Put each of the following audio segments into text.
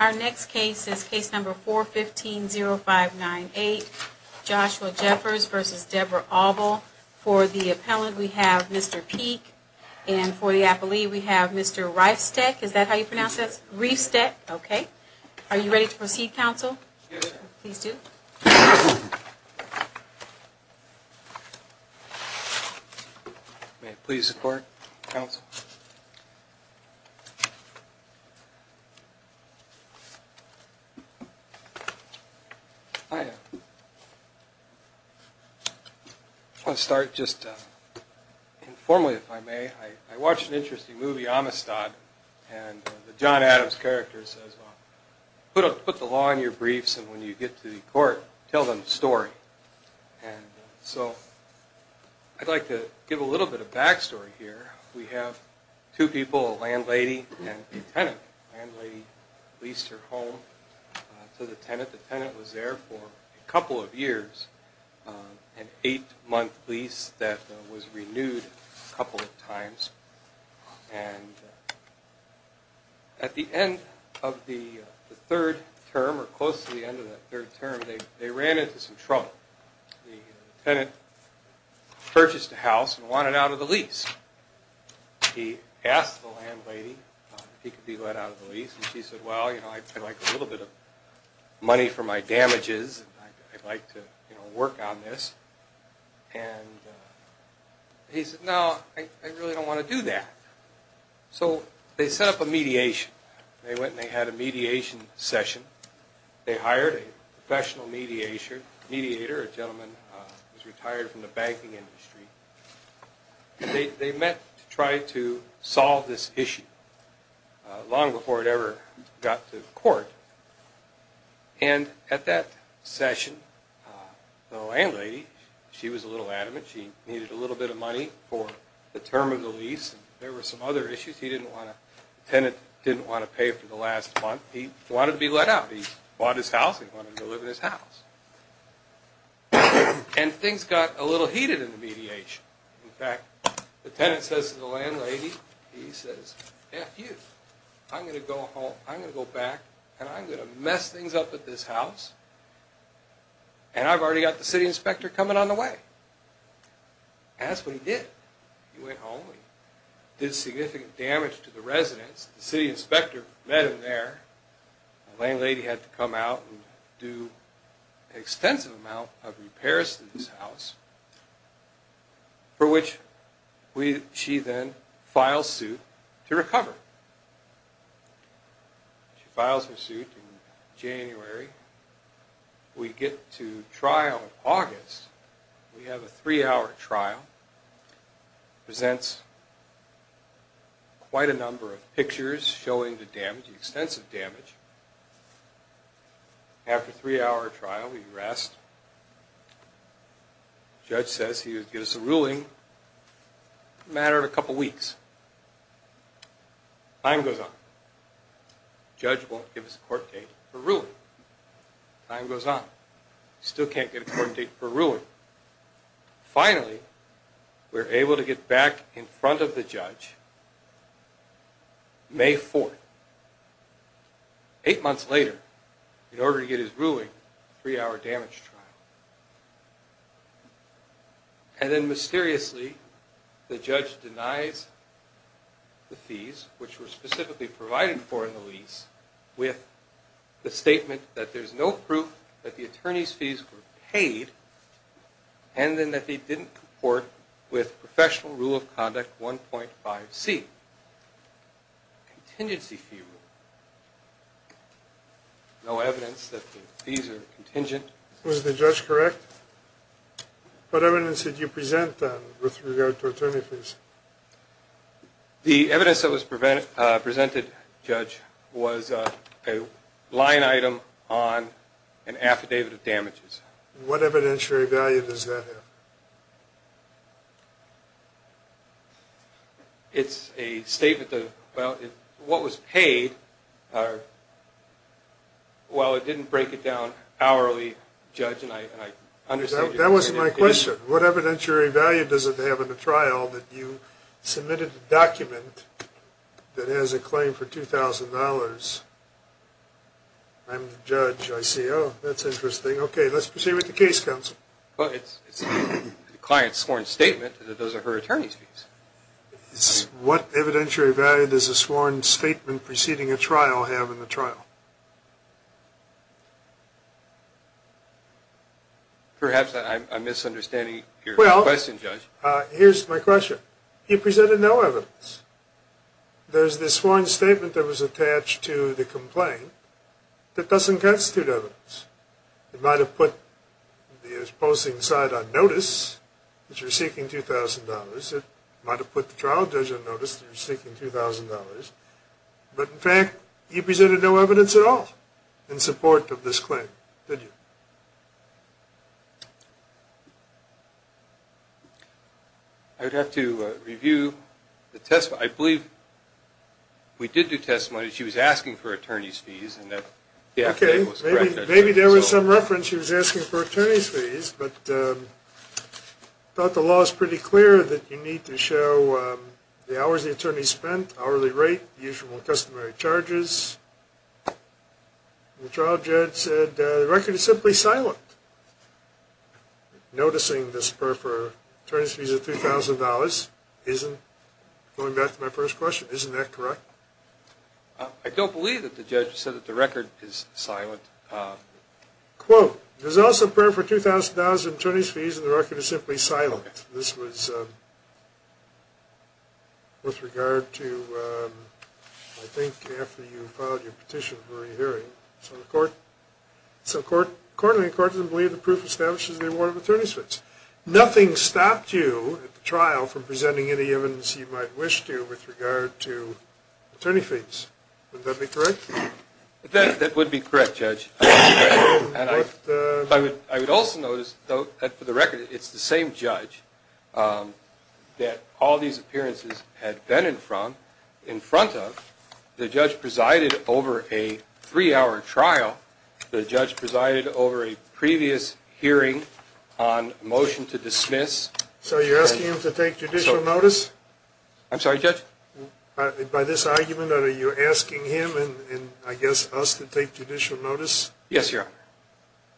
Our next case is case number 415-0598, Joshua Jeffers v. Deborah Auble. For the appellant, we have Mr. Peek, and for the appellee, we have Mr. Reifstech. Is that how you pronounce that? Reifstech, okay. Are you ready to proceed, counsel? Yes, ma'am. Please do. May it please the court, counsel. I want to start just informally, if I may. I watched an interesting movie, Amistad, and the John Adams character says, well, put the law in your briefs, and when you get to the court, tell them the story. And so I'd like to give a little bit of back story here. We have two people, a landlady and a tenant. The landlady leased her home to the tenant. The tenant was there for a couple of years, an eight-month lease that was renewed a couple of times, and at the end of the third term, or close to the end of that third term, they ran into some trouble. The tenant purchased a house and wanted out of the lease. He asked the landlady if he could be let out of the lease, and she said, well, you know, I'd like a little bit of money for my damages, and I'd like to, you know, work on this. And he said, no, I really don't want to do that. So they set up a mediation. They went and they had a mediation session. They hired a professional mediator, a gentleman who's retired from the banking industry, and they met to try to solve this issue long before it ever got to court. And at that session, the landlady, she was a little adamant. She needed a little bit of money for the term of the lease. There were some other issues. He didn't want to, the tenant didn't want to pay for the last month. He wanted to be let out. He bought his house and wanted to live in his house. And things got a little heated in the mediation. In fact, the tenant says to the landlady, he says, F you. I'm going to go home. I'm going to go back, and I'm going to mess things up at this house, and I've already got the city inspector coming on the way. And that's what he did. He went home and did significant damage to the residence. The city inspector met him there. The landlady had to come out and do an extensive amount of repairs to this house, and she filed suit to recover. She files her suit in January. We get to trial in August. We have a three-hour trial. It presents quite a number of pictures showing the damage, the extensive damage. After a three-hour trial, we rest. The judge says he would give us a ruling. It mattered a couple of weeks. Time goes on. The judge won't give us a court date for a ruling. Time goes on. We still can't get a court date for a ruling. Finally, we're able to get back in front of the judge, May 4th, eight months later, in order to get his ruling, a three-hour damage trial. And then mysteriously, the judge denies the fees, which were specifically provided for in the lease, with the statement that there's no proof that the attorney's fees were paid, and then that they didn't comport with Professional Rule of Conduct 1.5C, a contingency fee rule. And then the judge says no evidence that the fees are contingent. Was the judge correct? What evidence did you present with regard to attorney fees? The evidence that was presented, Judge, was a line item on an affidavit of damages. What evidentiary value does that have? It's a statement of what was paid. Well, it didn't break it down, hourly, Judge, and I understand... That wasn't my question. What evidentiary value does it have in the trial that you submitted a document that has a claim for $2,000? I'm the judge, I see. Oh, that's interesting. Okay, let's proceed with the case, Counsel. Well, it's the client's sworn statement that does her attorney's fees. What evidentiary value does a sworn statement preceding a trial have in the trial? Perhaps I'm misunderstanding your question, Judge. Well, here's my question. You presented no evidence. There's this sworn statement that was attached to the complaint that doesn't constitute evidence. It might have put the opposing side on notice, which you're seeking $2,000. It might have put the trial judge on notice that you're seeking $2,000. But, in fact, you presented no evidence at all in support of this claim, did you? I'd have to review the testimony. I believe we did do testimony. She was asking for attorney's fees, and the affidavit was correct. Okay, maybe there was some reference she was seeking. The law is pretty clear that you need to show the hours the attorney spent, hourly rate, usual and customary charges. The trial judge said the record is simply silent. Noticing this prayer for attorney's fees of $2,000 isn't, going back to my first question, isn't that correct? I don't believe that the judge said that the record is silent. Quote, there's also a prayer for $2,000 in attorney's fees, and the record is simply silent. This was with regard to, I think, after you filed your petition for a re-hearing, so the court doesn't believe the proof establishes the award of attorney's fees. Nothing stopped you at the trial from presenting any evidence you might wish to with regard to attorney fees. Would that be correct? That would be correct, Judge. I would also notice, though, that for the record, it's the same judge that all these appearances had been in front of. The judge presided over a three-hour trial. The judge presided over a previous hearing on motion to dismiss. So you're asking him to take judicial notice? I'm sorry, Judge? By this argument, are you asking him and, I guess, us to take judicial notice? Yes, Your Honor.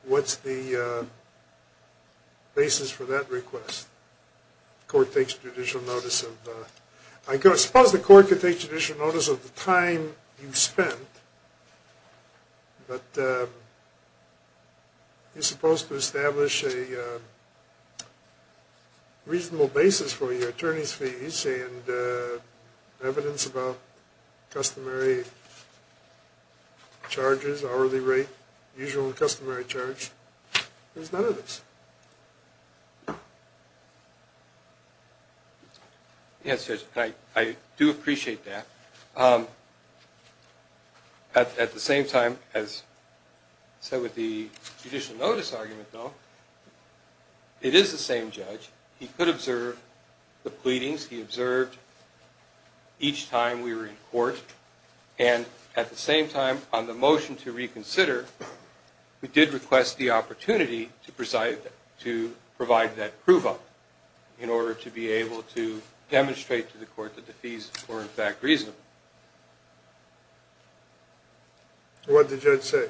What's the basis for that request? I suppose the court could take judicial notice of the time you spent, but you're supposed to establish a reasonable basis for your attorney's fee. Evidence about customary charges, hourly rate, usual and customary charge, there's none of this. Yes, Judge, I do appreciate that. At the same time, as I said with the judicial notice argument, though, it is the same judge. He could observe the pleadings. He observed each time we were in court. And at the same time, on the motion to reconsider, we did request the opportunity to provide that proof up in order to be able to demonstrate to the court that the fees were, in fact, reasonable. What did the judge say?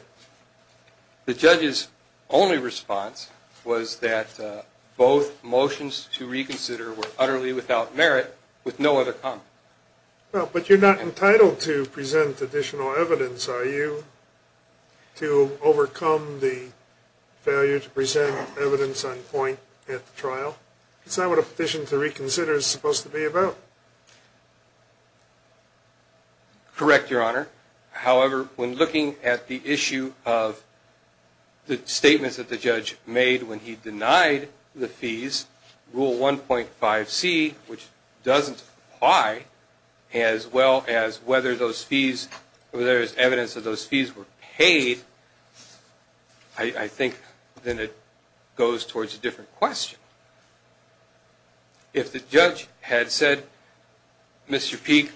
The judge's only response was that both motions to reconsider were utterly without merit with no other comment. Well, but you're not entitled to present additional evidence, are you, to overcome the failure to present evidence on point at the trial? That's not what a petition to reconsider is supposed to be about. Correct, Your Honor. However, when looking at the issue of the statements that the judge made when he denied the fees, Rule 1.5c, which doesn't apply, as well as whether those fees, whether there's evidence that those fees were paid, I think then it goes towards a different question. If the judge had said, Mr. Peek,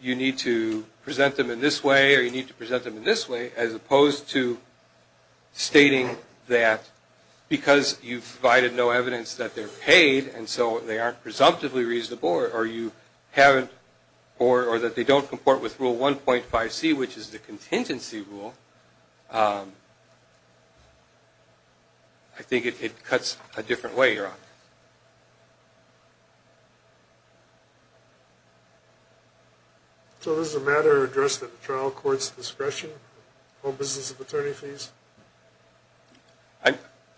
you need to present them in this way, or you need to present them in this way, as opposed to stating that because you've provided no evidence that they're paid, and so they aren't presumptively reasonable, or you haven't, or that they don't comport with Rule 1.5c, which is the contingency rule, I think it cuts a different way, Your Honor. So this is a matter addressed at the trial court's discretion, in the whole business of attorney fees?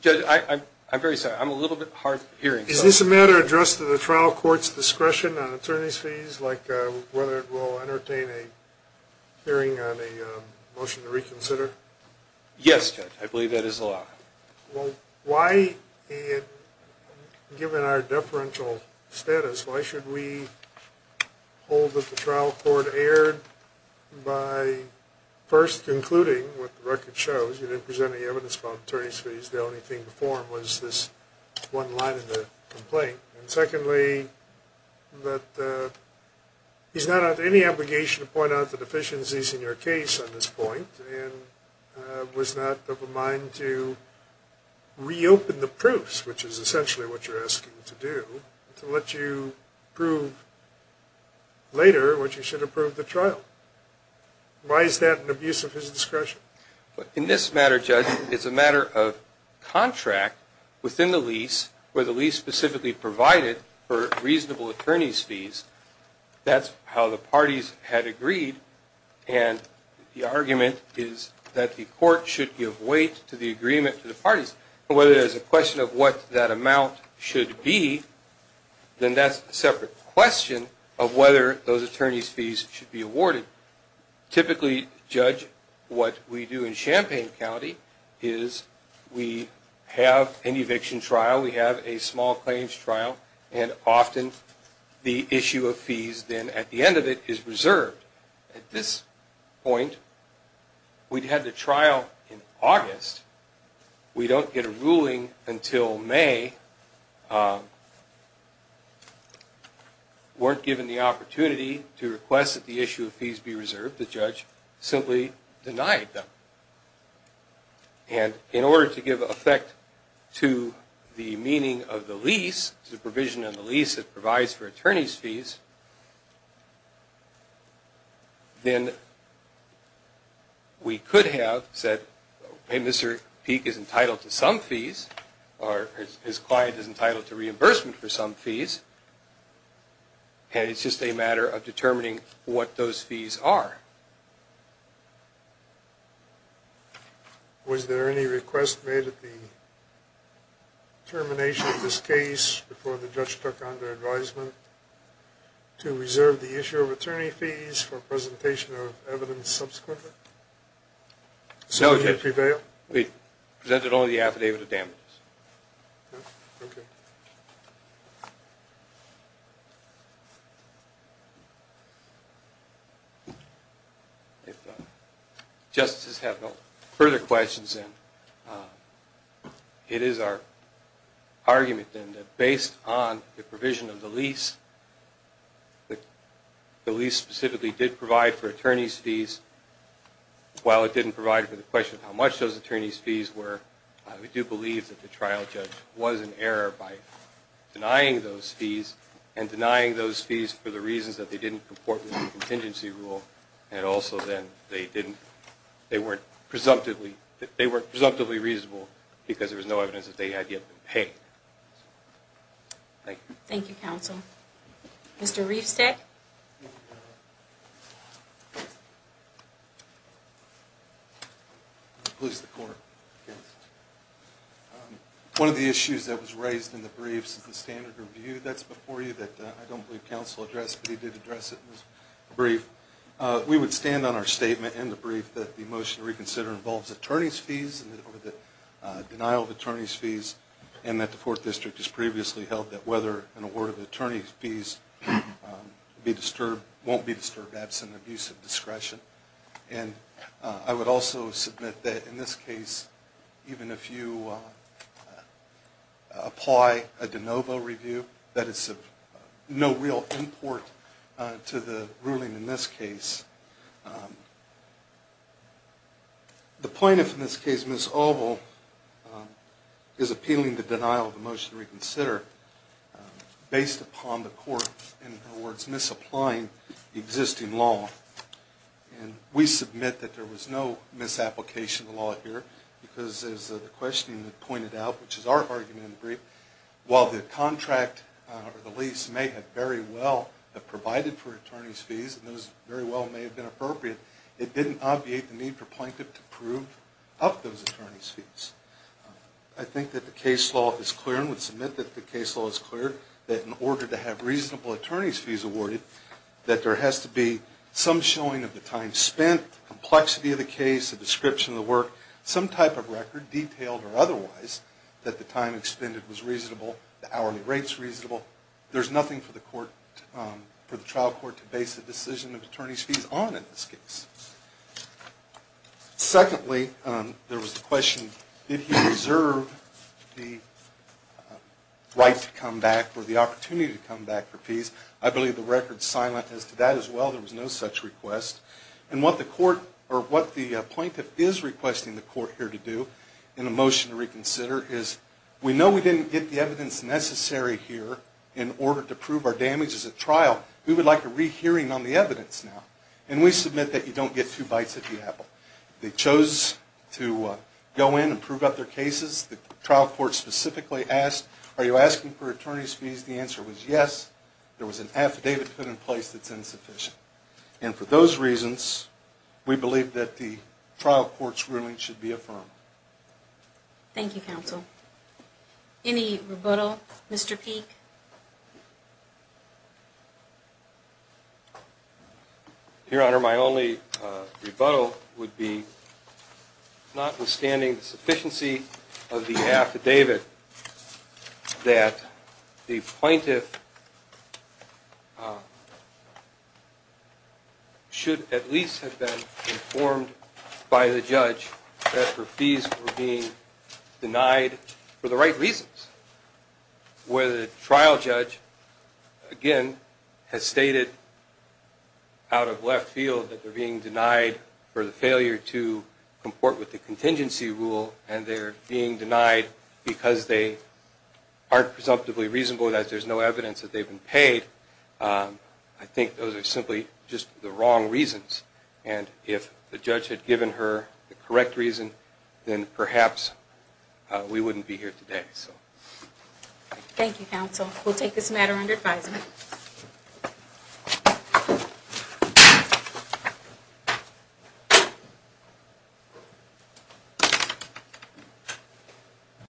Judge, I'm very sorry, I'm a little bit hard of hearing. Is this a matter addressed at the trial court's discretion on attorney's fees, like whether it will entertain a hearing on a motion to reconsider? Yes, Judge, I believe that is allowed. Well, why, given our deferential status, why should we hold that the trial court erred by first, concluding what the record shows, you didn't present any evidence about attorney's fees, the only thing to form was this one line in the complaint, and secondly, that he's not under any obligation to point out the deficiencies in your case on this point, and was not of a mind to reopen the proofs, which is essentially what you're asking to do, to let you prove later what you should approve at the trial. Why is that an abuse of his discretion? In this matter, Judge, it's a matter of contract within the lease, where the lease specifically provided for reasonable attorney's fees, that's how the parties had agreed, and the argument is that the court should give weight to the agreement to the parties, but whether there's a question of what that amount should be, then that's a separate question of whether those attorney's fees should be awarded. Typically, Judge, what we do in Champaign County is we have an eviction trial, we have a small claims trial, and often the issue of fees then, at the end of it, is reserved. At this point, we'd have the trial in August, we don't get a ruling until May, weren't given the opportunity to request that the issue of fees be reserved, the judge simply denied them. And in order to give effect to the meaning of the lease, the provision of the lease that provides for attorney's fees, then we could have said, hey, Mr. Peek is entitled to some fees, or his client is entitled to reimbursement for some fees, and it's just a matter of determining what those fees are. Was there any request made at the termination of this case before the judge took on the advisement to reserve the issue of attorney fees for presentation of evidence subsequently? We presented only the affidavit of damages. If justices have no further questions, then it is our argument, then, that based on the provision of the lease, the lease specifically did provide for attorney's fees, while it didn't provide for the question of how much those attorney's fees were, we do believe that the trial judge was in error by denying those fees, and denying those fees for the contingency rule, and also then, they weren't presumptively reasonable, because there was no evidence that they had yet been paid. Thank you, counsel. Mr. Riefstad? One of the issues that was raised in the briefs is the standard review that's before you that I don't believe counsel addressed, but he did address it in his brief. We would stand on our statement in the brief that the motion to reconsider involves attorney's fees, denial of attorney's fees, and that the 4th District has previously held that whether an award of attorney's fees won't be disturbed absent abuse of discretion. I would also submit that in this case, even if you apply a de novo review, that is, if the attorney's fees are no real import to the ruling in this case, the plaintiff in this case, Ms. Alvo, is appealing the denial of the motion to reconsider based upon the court, in her words, misapplying existing law, and we submit that there was no misapplication of the law here, because as the questioning had pointed out, which is our argument in the brief, while the contract or the lease may have very well provided for attorney's fees, and those very well may have been appropriate, it didn't obviate the need for plaintiff to prove up those attorney's fees. I think that the case law is clear and would submit that the case law is clear that in order to have reasonable attorney's fees awarded, that there has to be some showing of the time spent, complexity of the case, the description of the work, some type of reasonable, there's nothing for the trial court to base a decision of attorney's fees on in this case. Secondly, there was the question, did he reserve the right to come back or the opportunity to come back for fees? I believe the record is silent as to that as well. There was no such request. And what the court, or what the plaintiff is requesting the court here to do in a motion to reconsider is, we know we didn't get the evidence necessary here in order to prove our damages at trial. We would like a rehearing on the evidence now. And we submit that you don't get two bites at the apple. They chose to go in and prove up their cases. The trial court specifically asked, are you asking for attorney's fees? The answer was yes. There was an affidavit put in place that's insufficient. And for those reasons, we believe that the trial court's ruling should be affirmed. Thank you, counsel. Any rebuttal, Mr. Peek? Your Honor, my only rebuttal would be, notwithstanding the sufficiency of the affidavit, that the fees were being denied for the right reasons. Where the trial judge, again, has stated out of left field that they're being denied for the failure to comport with the contingency rule and they're being denied because they aren't presumptively reasonable, that there's no evidence that they've been paid. I think those are simply just the wrong reasons. And if the judge had given her the correct reason, then perhaps we wouldn't be here today. Thank you, counsel. We'll take this matter under advisement.